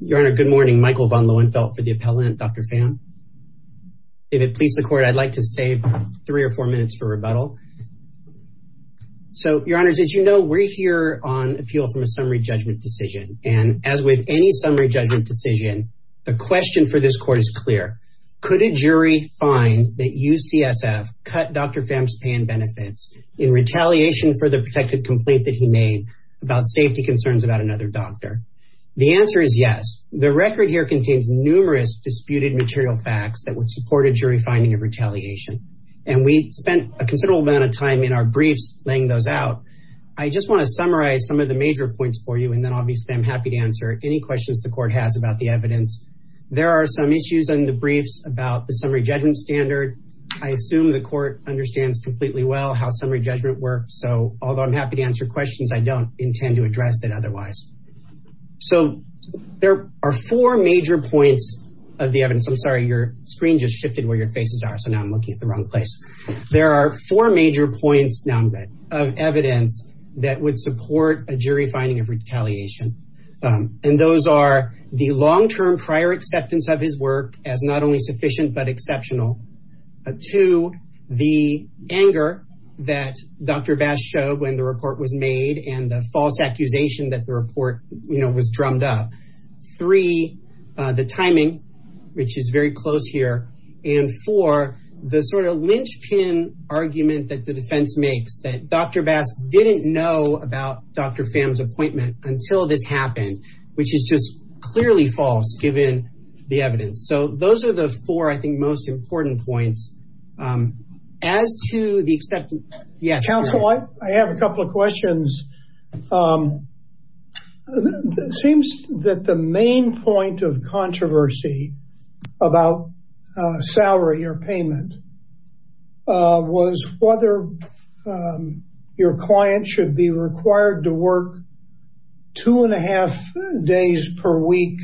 Your Honor, good morning. Michael von Lohenfeldt for the appellant, Dr. Pham. If it pleases the court, I'd like to save three or four minutes for rebuttal. So, Your Honors, as you know, we're here on appeal from a summary judgment decision. And as with any summary judgment decision, the question for this court is clear. Could a jury find that UCSF cut Dr. Pham's pay and benefits in retaliation for the protective complaint that he made about safety concerns about another doctor? The answer is yes. The record here contains numerous disputed material facts that would support a jury finding of retaliation. And we spent a considerable amount of time in our briefs laying those out. I just want to summarize some of the major points for you. And then obviously I'm happy to answer any questions the court has about the evidence. There are some issues in the briefs about the summary judgment standard. I assume the court understands completely well how summary judgment works. So although I'm happy to answer questions, I don't intend to address that otherwise. So there are four major points of the evidence. I'm sorry, your screen just shifted where your faces are. So now I'm looking at the wrong place. There are four major points now of evidence that would support a jury finding of retaliation. And those are the long-term prior acceptance of his work as not only sufficient, but exceptional. Two, the anger that Dr. Bass showed when the report was made and the false accusation that the report, you know, was drummed up. Three, the timing, which is very close here. And four, the sort of linchpin argument that the defense makes that Dr. Bass didn't know about Dr. Pham's appointment until this happened, which is just clearly false given the evidence. So those are the four, I think, most important points. As to the acceptance... Counsel, I have a couple of questions. It seems that the main point of controversy about salary or payment was whether your client should be required to work two and a half days per week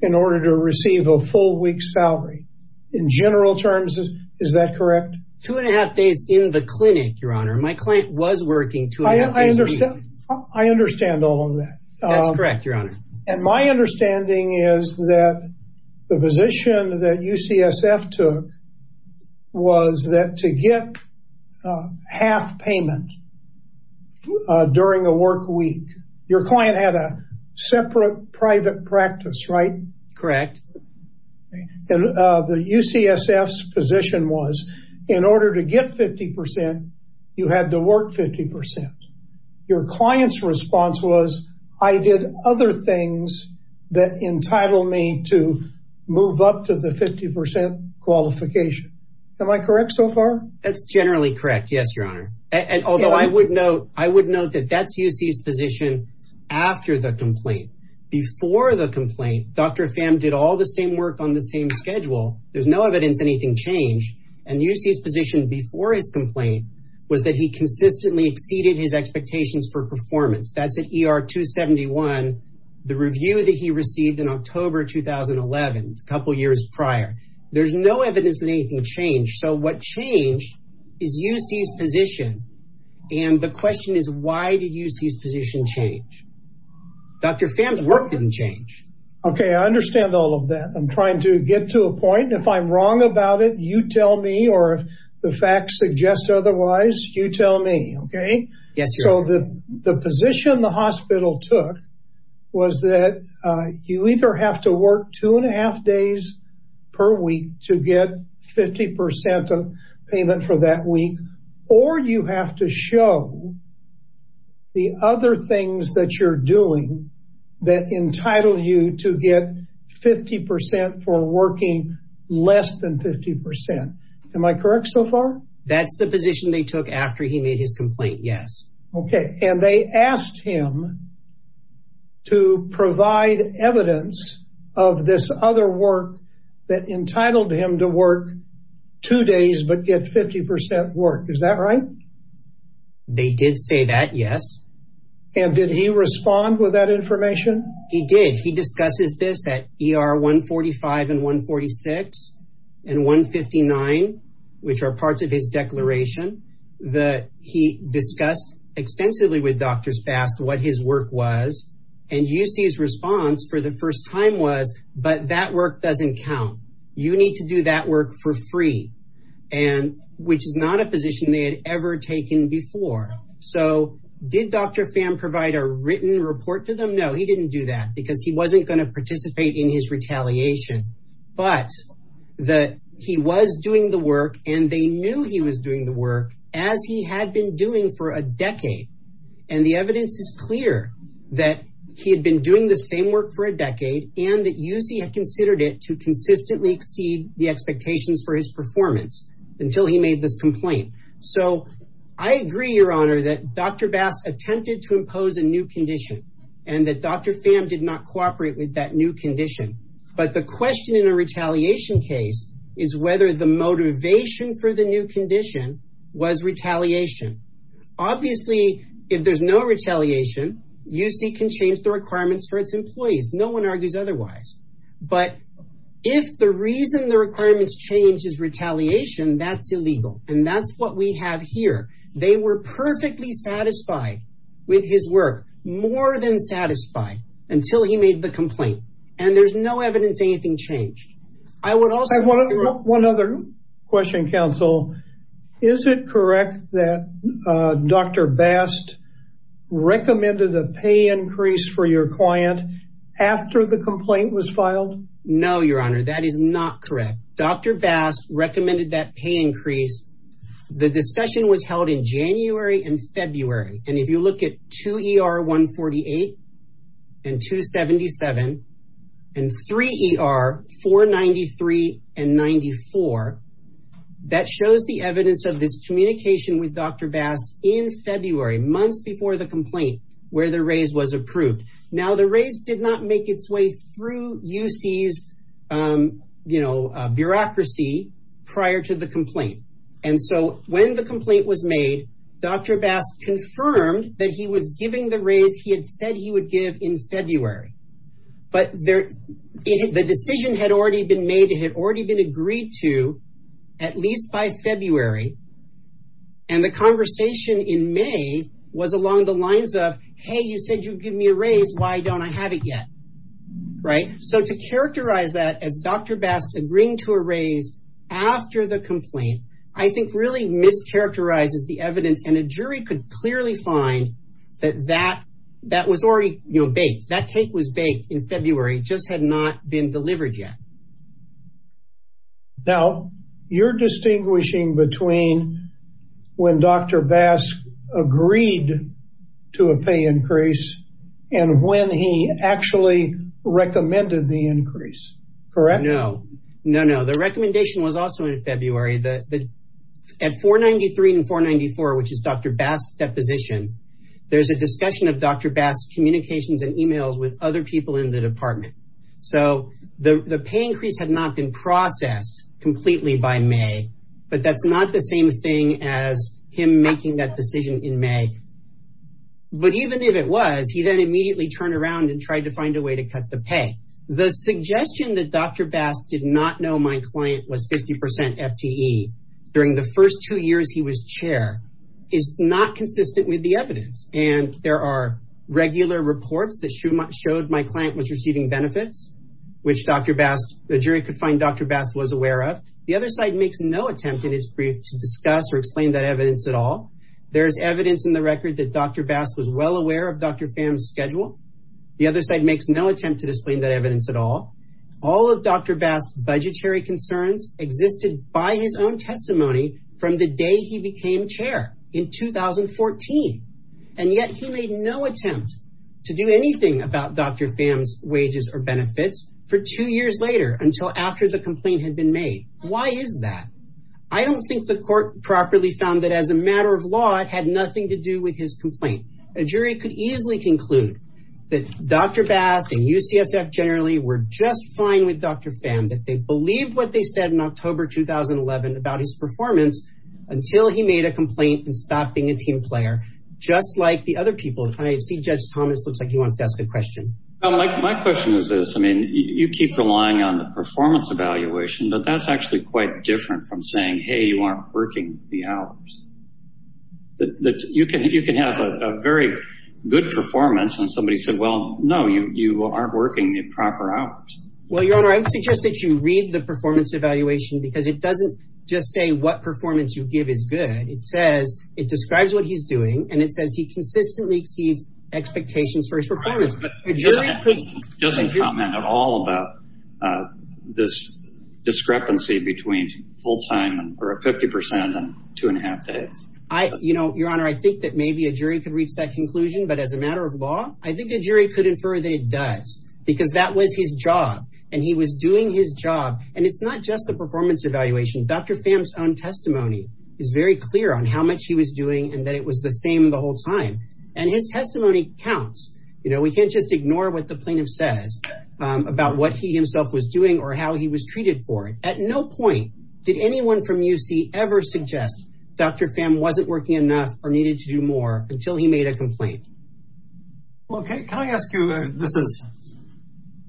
in order to receive a full week's salary. In general terms, is that correct? Two and a half days in the clinic, Your Honor. My client was working two and a half days a week. I understand. I understand all of that. That's correct, Your Honor. And my understanding is that the position that UCSF took was that to get half payment during the work week, your client had a separate private practice, right? Correct. And the UCSF's position was in order to get 50 percent, you had to work 50 percent. Your client's response was, I did other things that entitled me to move up to the 50 percent qualification. Am I correct so far? That's generally correct. Yes, Your Honor. And although I would note that that's UCSF's position after the complaint, Dr. Pham did all the same work on the same schedule. There's no evidence anything changed. And UCSF's position before his complaint was that he consistently exceeded his expectations for performance. That's at ER 271, the review that he received in October 2011, a couple of years prior. There's no evidence that anything changed. So what changed is UCSF's position. And the question is, why did UCSF's position change? Dr. Pham's work didn't change. OK, I understand all of that. I'm trying to get to a point. If I'm wrong about it, you tell me, or if the facts suggest otherwise, you tell me. OK? Yes, Your Honor. So the position the hospital took was that you either have to work two and a half days per week to get 50 percent of payment for that week, or you have to show the other things that you're doing that entitle you to get 50 percent for working less than 50 percent. Am I correct so far? That's the position they took after he made his complaint. Yes. OK. And they asked him to provide evidence of this other work that entitled him to work two days but get 50 percent work. Is that right? They did say that, yes. And did he respond with that information? He did. He discusses this at ER 145 and 146 and 159, which are parts of his declaration that he discussed extensively with Dr. Spass what his work was. And UCSF's response for the first time was, but that work doesn't count. You need to do that work for free, which is not a position they had ever taken before. So did Dr. Pham provide a written report to them? No, he didn't do that because he wasn't going to participate in his retaliation. But that he was doing the work and they knew he was doing the work as he had been doing for a decade. And the evidence is clear that he had been doing the same work for a decade and that UC had considered it to consistently exceed the expectations for his performance until he made this complaint. So I agree, Your Honor, that Dr. Bass attempted to impose a new condition and that Dr. Pham did not cooperate with that new condition. But the question in a retaliation case is whether the motivation for the new condition was retaliation. Obviously, if there's no retaliation, UC can change the requirements for its employees. No one argues otherwise. But if the reason the requirements change is retaliation, that's illegal. And that's what we have here. They were perfectly satisfied with his work, more than satisfied, until he made the complaint. And there's no evidence anything changed. I would also... One other question, counsel. Is it correct that Dr. Bass recommended a pay increase for your client after the complaint was filed? No, Your Honor, that is not correct. Dr. Bass recommended that pay increase. The discussion was held in January and February. And if you look at 2 ER 148 and 277 and 3 ER 493 and 94, that shows the evidence of this communication with Dr. Bass in February, months before the complaint where the raise was approved. Now, the raise did not make its way through UC's, you know, bureaucracy prior to the complaint. And so when the complaint was made, Dr. Bass confirmed that he was giving the raise he had said he would give in February. But the decision had already been made. It had already been agreed to, at least by February. And the conversation in May was along the lines of, hey, you said you'd give me a raise. Why don't I have it yet? Right. So to characterize that as Dr. Bass agreeing to a raise after the complaint, I think really mischaracterizes the evidence. And a jury could clearly find that that that was already baked. That cake was baked in February, just had not been delivered yet. Now, you're distinguishing between when Dr. Bass agreed to a pay increase and when he actually recommended the increase, correct? No, no, no. The recommendation was also in February that at 493 and 494, which is Dr. Bass deposition, there's a discussion of Dr. Bass communications and emails with other people in the department. So the pay increase had not been processed completely by May. But that's not the same thing as him making that decision in May. But even if it was, he then immediately turned around and tried to find a way to cut the pay. The suggestion that Dr. Bass did not know my client was 50 percent FTE during the first two years he was chair is not consistent with the evidence. And there are regular reports that showed my client was receiving benefits, which Dr. Bass, the jury could find Dr. Bass was aware of. The other side makes no attempt in its brief to discuss or explain that evidence at all. There's evidence in the record that Dr. Bass was well aware of Dr. Pham's schedule. The other side makes no attempt to explain that evidence at all. All of Dr. Bass budgetary concerns existed by his own testimony from the day he became chair in 2014. And yet he made no attempt to do anything about Dr. Pham's wages or benefits for two years later, until after the complaint had been made. Why is that? I don't think the court properly found that as a matter of law, it had nothing to do with his complaint. A jury could easily conclude that Dr. Bass and UCSF generally were just fine with Dr. Pham, that they believed what they said in October 2011 about his performance until he made a complaint and stopped being a team player, just like the other people. I see Judge Thomas looks like he wants to ask a question. My question is this. I mean, you keep relying on the performance evaluation, but that's actually quite different from saying, hey, you aren't working the hours. You can have a very good performance and somebody said, well, no, you aren't working the proper hours. Well, Your Honor, I would suggest that you read the performance evaluation because it says it describes what he's doing and it says he consistently exceeds expectations for his performance. But a jury doesn't comment at all about this discrepancy between full time or a 50 percent and two and a half days. I you know, Your Honor, I think that maybe a jury could reach that conclusion. But as a matter of law, I think a jury could infer that it does because that was his job and he was doing his job. And it's not just the performance evaluation. Dr. Pham's own testimony is very clear on how much he was doing and that it was the same the whole time. And his testimony counts. You know, we can't just ignore what the plaintiff says about what he himself was doing or how he was treated for it. At no point did anyone from UC ever suggest Dr. Pham wasn't working enough or needed to do more until he made a complaint. OK, can I ask you, this is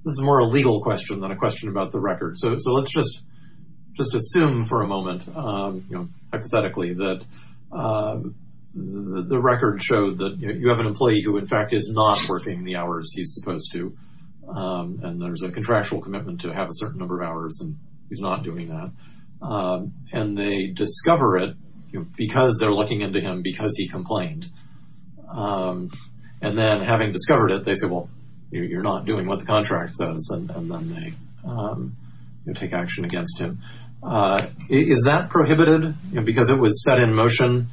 this is more a legal question than a question about the record. So let's just just assume for a moment, you know, hypothetically that the record showed that you have an employee who, in fact, is not working the hours he's supposed to. And there's a contractual commitment to have a certain number of hours. And he's not doing that. And they discover it because they're looking into him because he complained. And then having discovered it, they say, well, you're not doing what the contract says. And then they take action against him. Is that prohibited because it was set in motion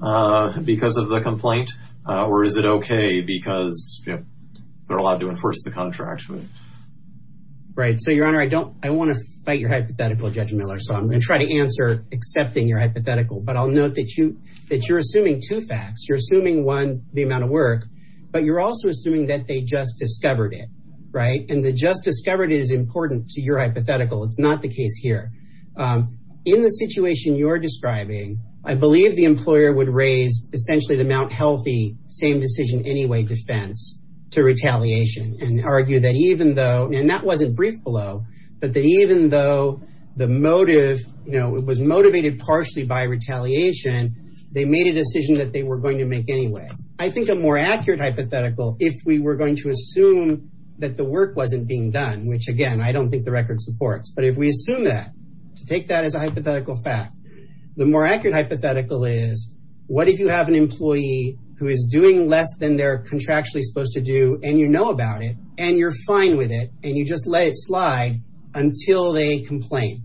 because of the complaint? Or is it OK because they're allowed to enforce the contract? Right. So, Your Honor, I don't I want to fight your hypothetical, Judge Miller. So I'm going to try to answer accepting your hypothetical. But I'll note that you that you're assuming two facts. You're assuming one, the amount of work, but you're also assuming that they just discovered it right. And they just discovered it is important to your hypothetical. It's not the case here. In the situation you're describing, I believe the employer would raise essentially the Mount Healthy same decision anyway defense to retaliation and argue that even though and that wasn't brief below, but that even though the motive was motivated partially by retaliation, they made a decision that they were going to make anyway. I think a more accurate hypothetical, if we were going to assume that the work wasn't being done, which, again, I don't think the record supports. But if we assume that to take that as a hypothetical fact, the more accurate hypothetical is what if you have an employee who is doing less than they're contractually supposed to do and you know about it and you're fine with it and you just let it slide until they complain.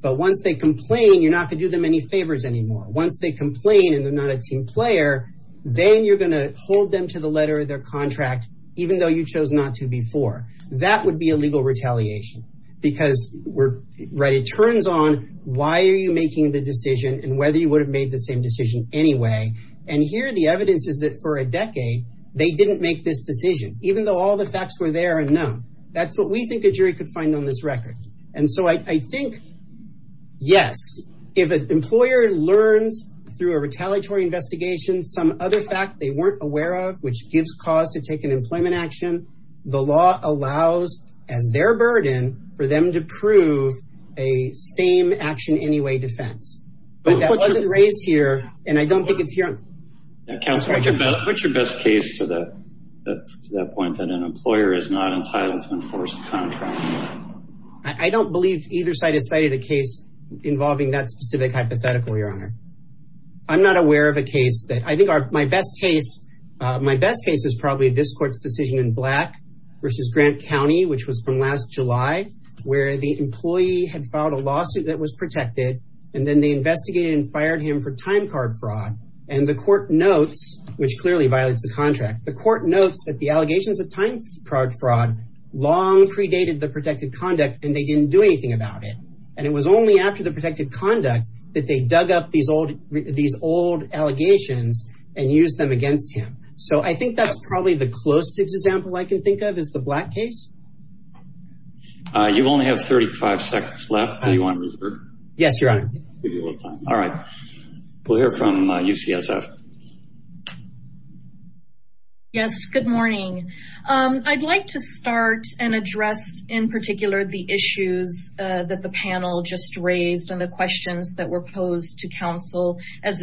But once they complain, you're not going to do them any favors anymore. Once they complain and they're not a team player, then you're going to hold them to the letter of their contract, even though you chose not to before. That would be a legal retaliation because we're right. It turns on why are you making the decision and whether you would have made the same decision anyway. And here, the evidence is that for a decade, they didn't make this decision, even though all the facts were there. And now that's what we think a jury could find on this record. And so I think, yes, if an employer learns through a retaliatory investigation some other fact they weren't aware of, which gives cause to take an employment action, the law allows as their burden for them to prove a same action anyway defense. But that wasn't raised here. And I don't think it's here. Counselor, what's your best case to the point that an employer is not entitled to enforce contract? I don't believe either side has cited a case involving that specific hypothetical, Your Honor. I'm not aware of a case that I think my best case, my best case is probably this court's decision in Black versus Grant County, which was from last July, where the employee had filed a lawsuit that was protected. And then they investigated and fired him for time card fraud. And the court notes, which clearly violates the contract, the court notes that the allegations of time card fraud long predated the protected conduct, and they didn't do anything about it. And it was only after the protected conduct that they dug up these old allegations and used them against him. So I think that's probably the closest example I can think of is the Black case. You only have 35 seconds left. Do you want to reserve? Yes, Your Honor. Give you a little time. All right. We'll hear from UCSF. Yes, good morning. I'd like to start and address in particular the issues that the panel just raised and the questions that were posed to counsel as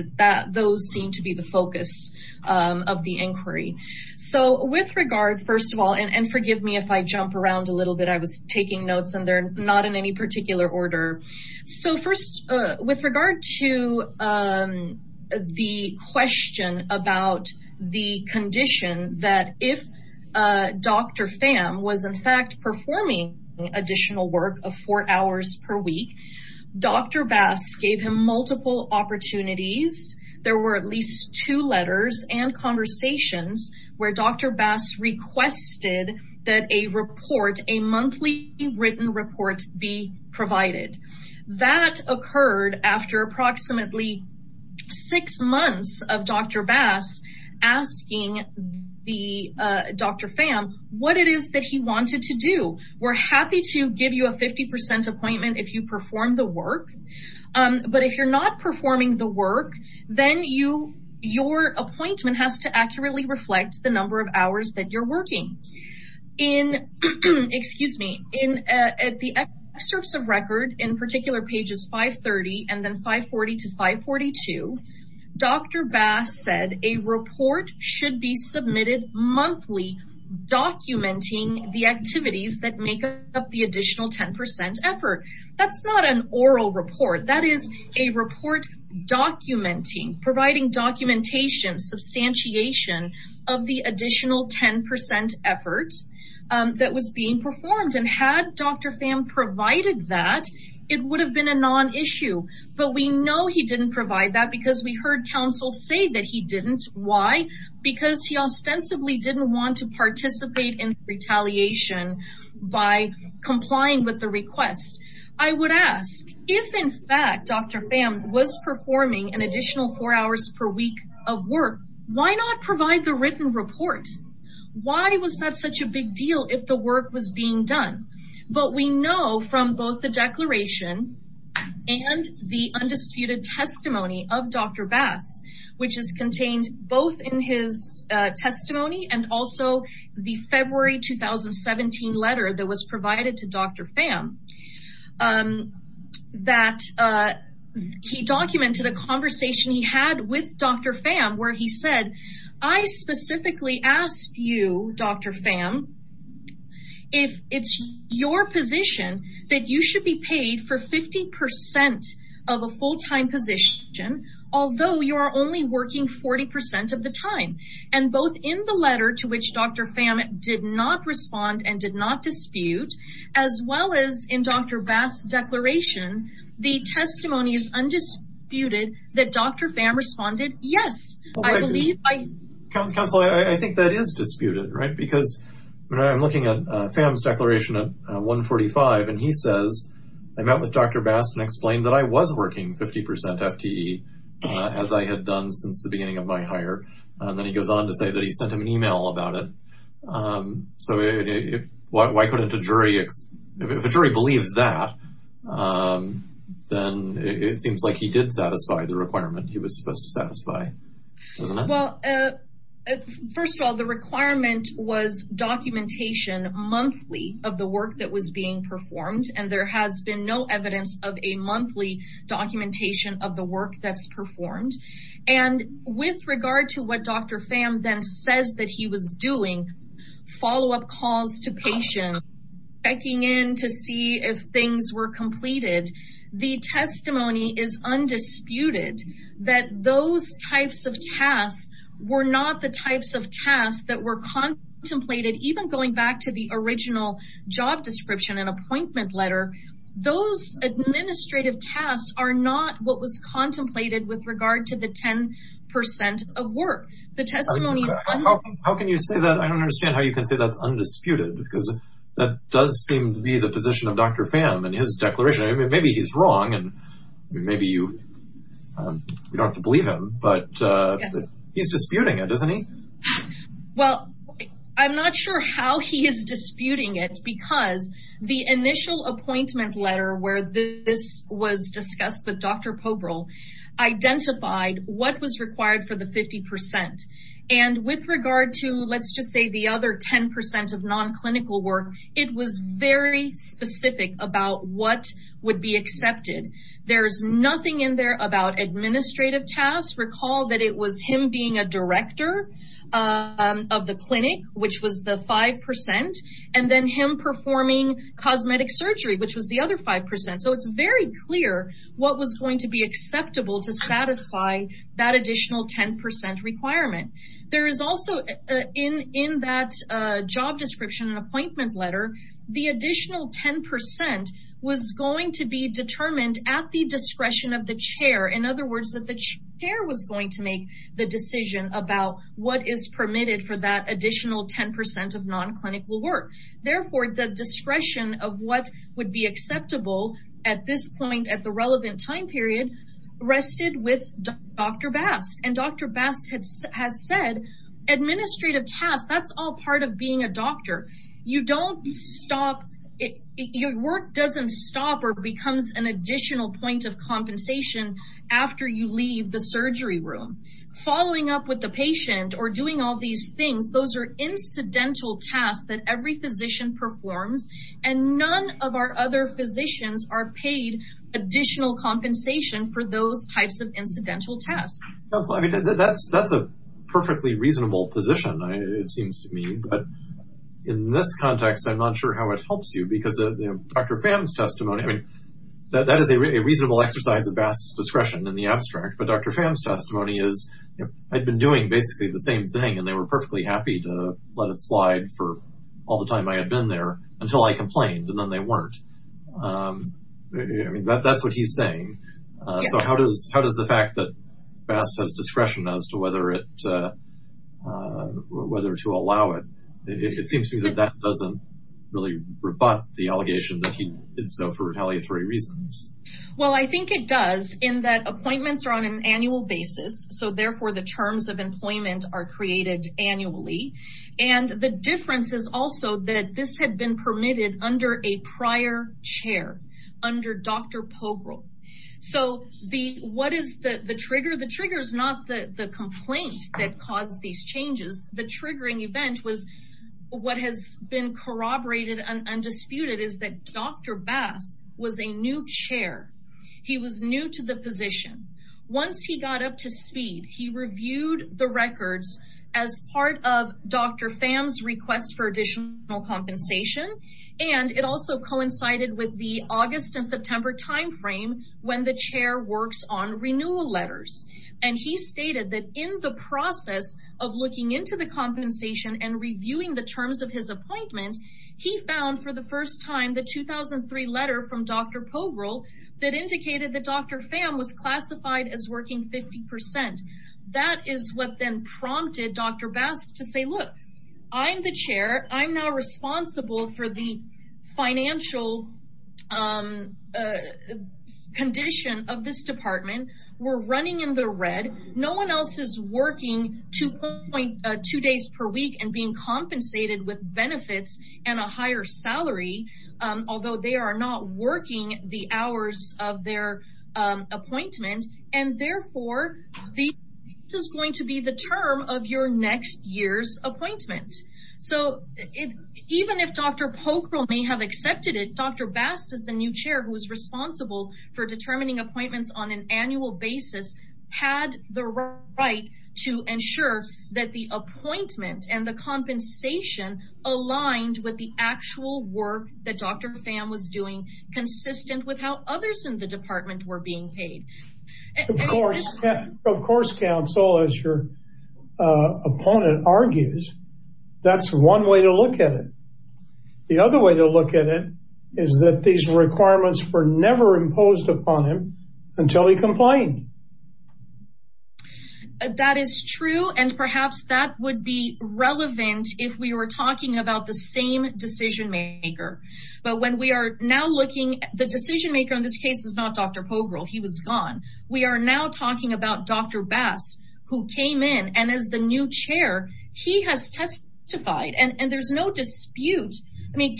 those seem to be the focus of the inquiry. So with regard, first of all, and forgive me if I jump around a little bit, I was taking notes and they're not in any particular order. So first, with regard to the question about the condition that if Dr. Pham was, in fact, performing additional work of four hours per week, Dr. Bass gave him multiple opportunities. There were at least two letters and conversations where Dr. Bass requested that a monthly written report be provided. That occurred after approximately six months of Dr. Bass asking Dr. Pham what it is that he wanted to do. We're happy to give you a 50 percent appointment if you perform the work. But if you're not performing the work, then your appointment has to accurately reflect the number of hours that you're working. In, excuse me, at the excerpts of record, in particular pages 530 and then 540 to 542, Dr. Bass said a report should be submitted monthly documenting the activities that make up the additional 10 percent effort. That's not an oral report. That is a report documenting, providing documentation, substantiation of the additional 10 percent effort that was being performed. And had Dr. Pham provided that, it would have been a non-issue. But we know he didn't provide that because we heard counsel say that he didn't. Why? Because he ostensibly didn't want to participate in retaliation by complying with the request. I would ask, if in fact Dr. Pham was performing an additional four hours per week of work, why not provide the written report? Why was that such a big deal if the work was being done? But we know from both the declaration and the undisputed testimony of Dr. Bass, which is contained both in his testimony and also the February 2017 letter that was submitted, that he documented a conversation he had with Dr. Pham where he said, I specifically asked you, Dr. Pham, if it's your position that you should be paid for 50 percent of a full-time position, although you are only working 40 percent of the time. And both in the letter to which Dr. Bass' declaration, the testimony is undisputed that Dr. Pham responded, yes, I believe. But counsel, I think that is disputed, right? Because when I'm looking at Pham's declaration at 145 and he says, I met with Dr. Bass and explained that I was working 50 percent FTE as I had done since the beginning of my hire. And then he goes on to say that he sent him an email about it. So why couldn't a jury, if a jury believes that, then it seems like he did satisfy the requirement he was supposed to satisfy. Well, first of all, the requirement was documentation monthly of the work that was being performed. And there has been no evidence of a monthly documentation of the work that's performed. And with regard to what Dr. Pham then says that he was doing, follow-up calls to patients, checking in to see if things were completed, the testimony is undisputed that those types of tasks were not the types of tasks that were contemplated. Even going back to the original job description and appointment letter, those administrative tasks are not what was contemplated with regard to the 10 percent of work. The testimony is undisputed. How can you say that? I don't understand how you can say that's undisputed because that does seem to be the position of Dr. Pham and his declaration. Maybe he's wrong and maybe you don't have to believe him, but he's disputing it, isn't he? Well, I'm not sure how he is disputing it because the initial appointment letter where this was discussed with Dr. Pobrel identified what was required for the 50 percent. And with regard to, let's just say the other 10 percent of non-clinical work, it was very specific about what would be accepted. There's nothing in there about administrative tasks. Recall that it was him being a director of the clinic, which was the 5 percent, and then performing cosmetic surgery, which was the other 5 percent. So it's very clear what was going to be acceptable to satisfy that additional 10 percent requirement. There is also, in that job description and appointment letter, the additional 10 percent was going to be determined at the discretion of the chair. In other words, the chair was going to make the decision about what is permitted for that additional 10 percent of non-clinical work. Therefore, the discretion of what would be acceptable at this point, at the relevant time period, rested with Dr. Bast. And Dr. Bast has said administrative tasks, that's all part of being a doctor. You don't stop, your work doesn't stop or becomes an additional point of compensation after you leave the surgery room. Following up with the patient or doing all these things, those are incidental tasks that every physician performs. And none of our other physicians are paid additional compensation for those types of incidental tasks. That's a perfectly reasonable position, it seems to me. But in this context, I'm not sure how it helps you, because Dr. Pham's testimony, I mean, that is a reasonable exercise of Bast's discretion in the abstract. But Dr. Pham's testimony is, I'd been doing basically the same thing, and they were perfectly happy to let it slide for all the time I had been there until I complained, and then they weren't. I mean, that's what he's saying. So how does the fact that Bast has discretion as to whether to allow it, it seems to me that that doesn't really rebut the allegation that he did so for retaliatory reasons. Well, I think it does, in that appointments are on an annual basis. So therefore, the terms of employment are created annually. And the difference is also that this had been permitted under a prior chair, under Dr. Pogrel. So what is the trigger? The trigger is not the complaint that caused these changes. The triggering event was what has been corroborated and undisputed is that Dr. Bast was a new chair. He was new to the position. Once he got up to speed, he reviewed the records as part of Dr. Pham's request for additional compensation, and it also coincided with the August and September time frame when the chair works on renewal letters. And he stated that in the process of looking into the compensation and reviewing the terms of his appointment, he found for the first time the 2003 letter from Dr. Pham, which he classified as working 50%. That is what then prompted Dr. Bast to say, look, I'm the chair. I'm now responsible for the financial condition of this department. We're running in the red. No one else is working 2 days per week and being compensated with benefits and a higher And therefore, this is going to be the term of your next year's appointment. So even if Dr. Pokrell may have accepted it, Dr. Bast is the new chair who is responsible for determining appointments on an annual basis, had the right to ensure that the appointment and the compensation aligned with the actual work that Dr. Pham was doing, consistent with how others in the department were being paid. Of course, counsel, as your opponent argues, that's one way to look at it. The other way to look at it is that these requirements were never imposed upon him until he complained. That is true. Perhaps that would be relevant if we were talking about the same decision maker. The decision maker in this case was not Dr. Pokrell. He was gone. We are now talking about Dr. Bast, who came in and is the new chair. He has testified and there's no dispute.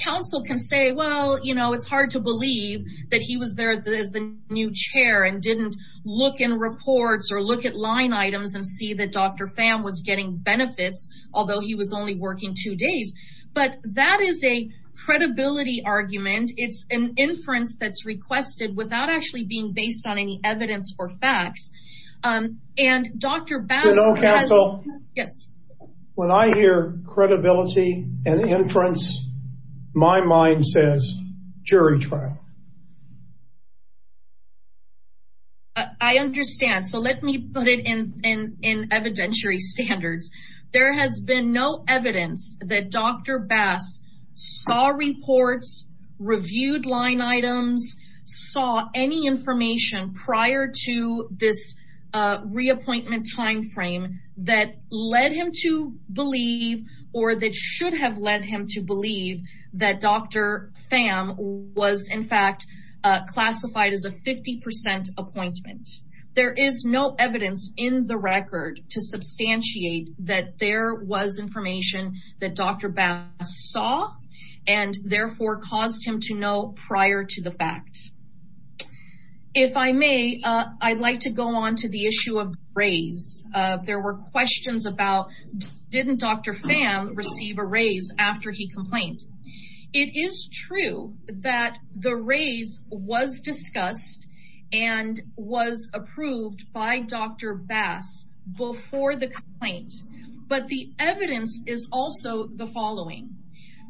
Counsel can say, well, it's hard to believe that he was there as the new chair and didn't look in reports or look at line items and see that Dr. Pham was getting benefits, although he was only working two days. But that is a credibility argument. It's an inference that's requested without actually being based on any evidence or facts. Dr. Bast has... You know, counsel, when I hear credibility and inference, my mind says jury trial. I understand. So let me put it in evidentiary standards. There has been no evidence that Dr. Bast saw reports, reviewed line items, saw any information prior to this reappointment timeframe that led him to believe or that should have led him to believe that Dr. Bast saw and therefore caused him to know prior to the fact. If I may, I'd like to go on to the issue of raise. There were questions about, didn't Dr. Pham receive a raise after he complained? It is true that the raise was discussed and was approved by Dr. Bast before the complaint, but the evidence is also the following.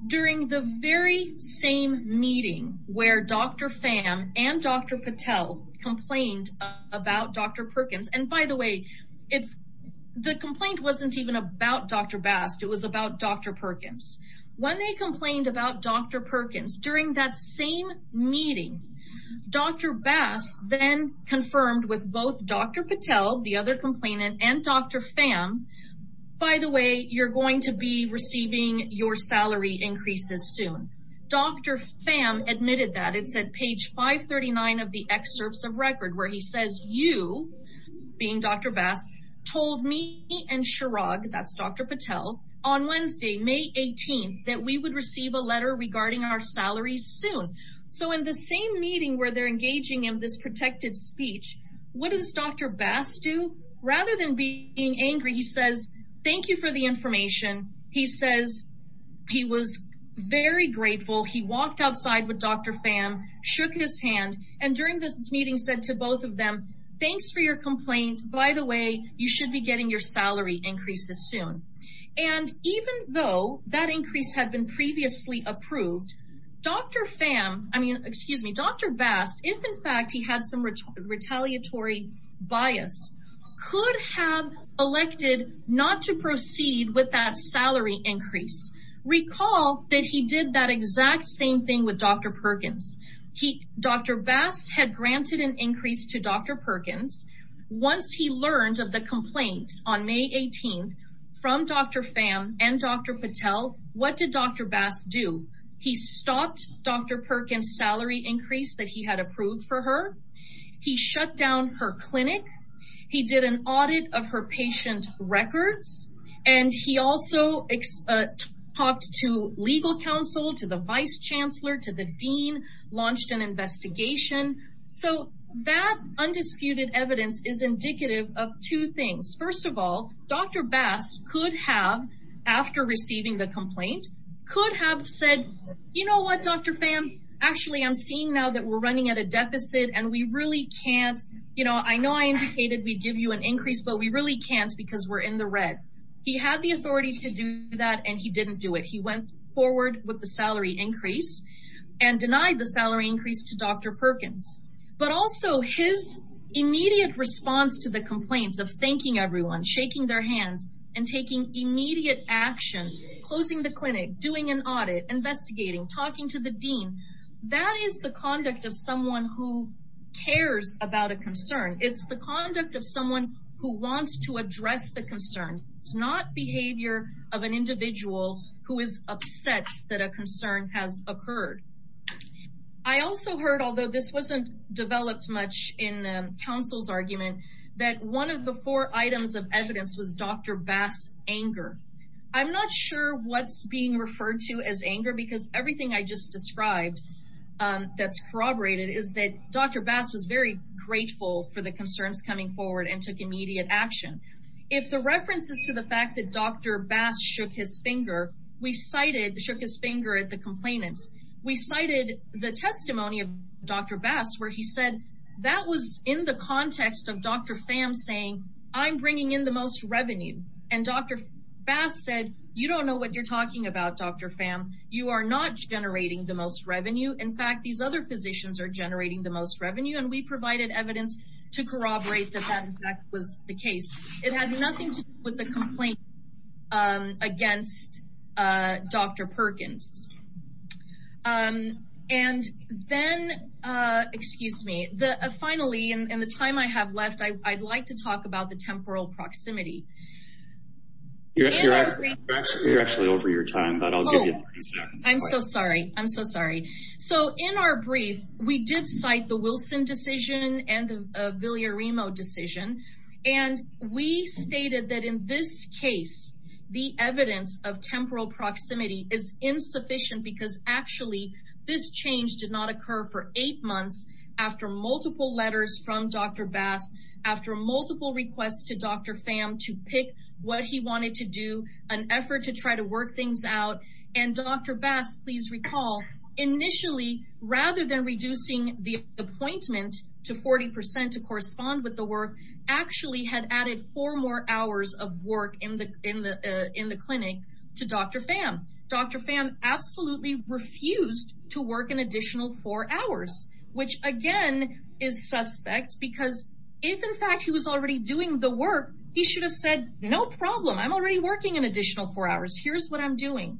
During the very same meeting where Dr. Pham and Dr. Patel complained about Dr. Perkins, and by the way, the complaint wasn't even about Dr. Bast. It was about Dr. Perkins. When they complained about Dr. Perkins during that same meeting, Dr. Bast then confirmed with both Dr. Patel, the other complainant and Dr. Pham, by the way, you're going to be receiving your salary increases soon. Dr. Pham admitted that. It's at page 539 of the excerpts of record where he says, you being Dr. told me and Chirag, that's Dr. Patel on Wednesday, May 18th, that we would receive a letter regarding our salaries soon. So in the same meeting where they're engaging in this protected speech, what does Dr. Bast do? Rather than being angry, he says, thank you for the information. He says he was very grateful. He walked outside with Dr. Pham, shook his hand, and during this meeting said to both of them, thanks for your complaint. By the way, you should be getting your salary increases soon. And even though that increase had been previously approved, Dr. Pham, I mean, excuse me, Dr. Bast, if in fact he had some retaliatory bias, could have elected not to proceed with that salary increase. Recall that he did that exact same thing with Dr. Perkins. Dr. Bast had granted an increase to Dr. Perkins. Once he learned of the complaint on May 18th from Dr. Pham and Dr. Patel, what did Dr. Bast do? He stopped Dr. Perkins' salary increase that he had approved for her. He shut down her clinic. He did an audit of her patient records. And he also talked to legal counsel, to the vice chancellor, to the dean, launched an investigation. So that undisputed evidence is indicative of two things. First of all, Dr. Bast could have, after receiving the complaint, could have said, you know what, Dr. Pham, actually I'm seeing now that we're running at a deficit and we really can't, you know, I know I indicated we'd give you an increase, but we really can't because we're in the red. He had the authority to do that and he didn't do it. He went forward with the salary increase and denied the salary increase to Dr. Perkins. But also his immediate response to the complaints of thanking everyone, shaking their hands, and taking immediate action, closing the clinic, doing an audit, investigating, talking to the dean, that is the conduct of someone who cares about a concern. It's the conduct of someone who wants to address the concern. It's not behavior of an individual who is upset that a concern has occurred. I also heard, although this wasn't developed much in counsel's argument, that one of the four items of evidence was Dr. Bast's anger. I'm not sure what's being referred to as anger because everything I just described that's corroborated is that Dr. Bast was very grateful for the concerns coming forward and took immediate action. If the reference is to the fact that Dr. Bast shook his finger, we cited shook his finger at the complainants. We cited the testimony of Dr. Bast where he said that was in the context of Dr. Pham saying, I'm bringing in the most revenue. And Dr. Bast said, you don't know what you're talking about, Dr. Pham. You are not generating the most revenue. In fact, these other physicians are generating the most revenue and we provided evidence to corroborate that that in fact was the case. It had nothing to do with the complaint against Dr. Perkins. And then, excuse me, finally, in the time I have left, I'd like to talk about the temporal proximity. You're actually over your time, but I'll give you a few seconds. I'm so sorry. I'm so sorry. So in our brief, we did cite the Wilson decision and the Villaremo decision. And we stated that in this case, the evidence of temporal proximity is insufficient because actually this change did not occur for eight months after multiple letters from Dr. Bast, after multiple requests to Dr. Pham to pick what he wanted to do, an effort to try to work things out. And Dr. Bast, please recall, initially, rather than reducing the appointment to 40% to correspond with the work, actually had added four more hours of work in the clinic to Dr. Pham. Dr. Pham absolutely refused to work an additional four hours, which again is suspect because if in fact he was already doing the work, he should have said, no problem. I'm already working an additional four hours. Here's what I'm doing.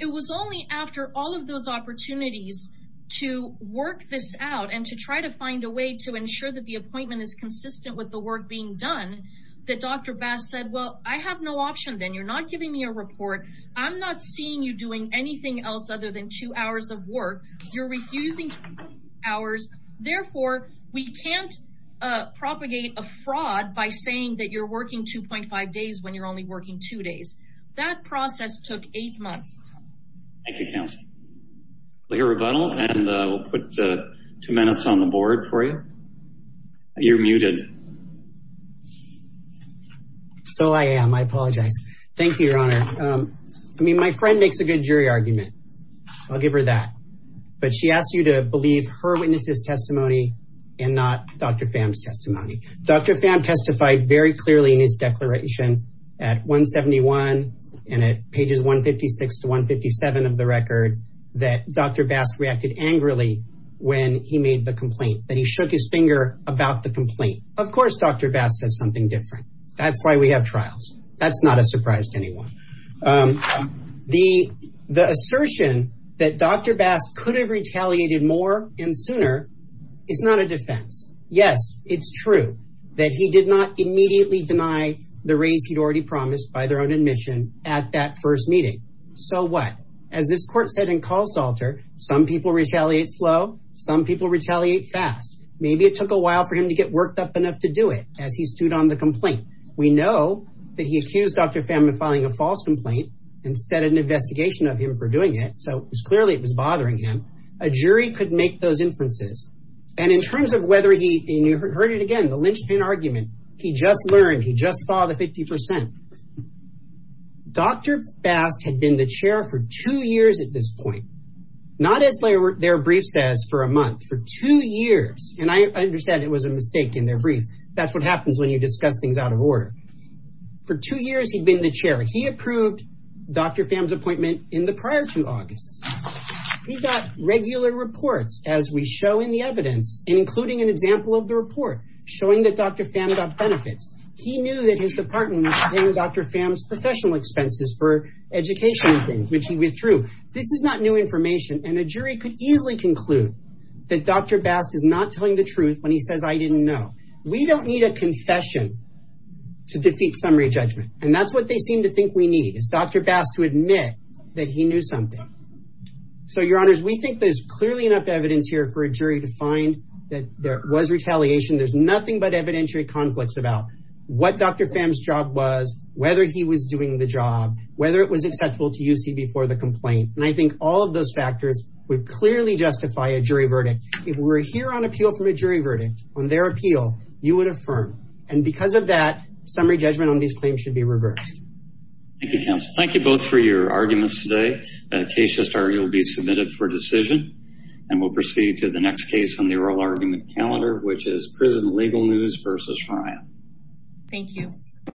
It was only after all of those opportunities to work this out and to try to find a way to ensure that the appointment is consistent with the work being done that Dr. Bast said, well, I have no option then. You're not giving me a report. I'm not seeing you doing anything else other than two hours of work. You're refusing to work two hours. Therefore, we can't propagate a fraud by saying that you're working 2.5 days when you're only working two days. That process took eight months. Thank you, counsel. We'll hear a rebuttal and we'll put two minutes on the board for you. You're muted. So I am. I apologize. Thank you, Your Honor. I mean, my friend makes a good jury argument. I'll give her that. But she asked you to believe her witness's testimony and not Dr. Pham's testimony. Dr. Pham testified very clearly in his declaration at 171 and at pages 156 to 157 of the record that Dr. Bast reacted angrily when he made the complaint, that he shook his finger about the complaint. Of course, Dr. Bast said something different. That's why we have trials. That's not a surprise to anyone. The assertion that Dr. Bast could have retaliated more and sooner is not a defense. Yes, it's true that he did not immediately deny the raise he'd already promised by their own admission at that first meeting. So what? As this court said in Kahl's alter, some people retaliate slow. Some people retaliate fast. Maybe it took a while for him to get worked up enough to do it as he stood on the complaint. We know that he accused Dr. Pham of filing a false complaint and set an investigation of him for doing it. So it was clearly it was bothering him. A jury could make those inferences. And in terms of whether he, and you heard it again, the lynchpin argument, he just learned, he just saw the 50%. Dr. Bast had been the chair for two years at this point, not as their brief says for a month, for two years. And I understand it was a mistake in their brief. That's what happens when you discuss things out of order. For two years, he'd been the chair. He approved Dr. Pham's appointment in the prior two August. He got regular reports as we show in the evidence, including an example of the report showing that Dr. Pham got benefits. He knew that his department was paying Dr. Pham's professional expenses for education, which he withdrew. This is not new information. And a jury could easily conclude that Dr. Bast is not telling the truth when he says, I didn't know. We don't need a confession to defeat summary judgment. And that's what they seem to think we need is Dr. Bast to admit that he knew something. So your honors, we think there's clearly enough evidence here for a jury to find that there was retaliation. There's nothing but evidentiary conflicts about what Dr. Pham's job was, whether he was doing the job, whether it was acceptable to UC before the complaint. And I think all of those factors would clearly justify a jury verdict. If we're here on appeal from a jury verdict on their appeal, you would affirm. And because of that, summary judgment on these claims should be reversed. Thank you, counsel. Thank you both for your arguments today. A case just argued will be submitted for decision. And we'll proceed to the next case on the oral argument calendar, which is prison legal news versus trial. Thank you.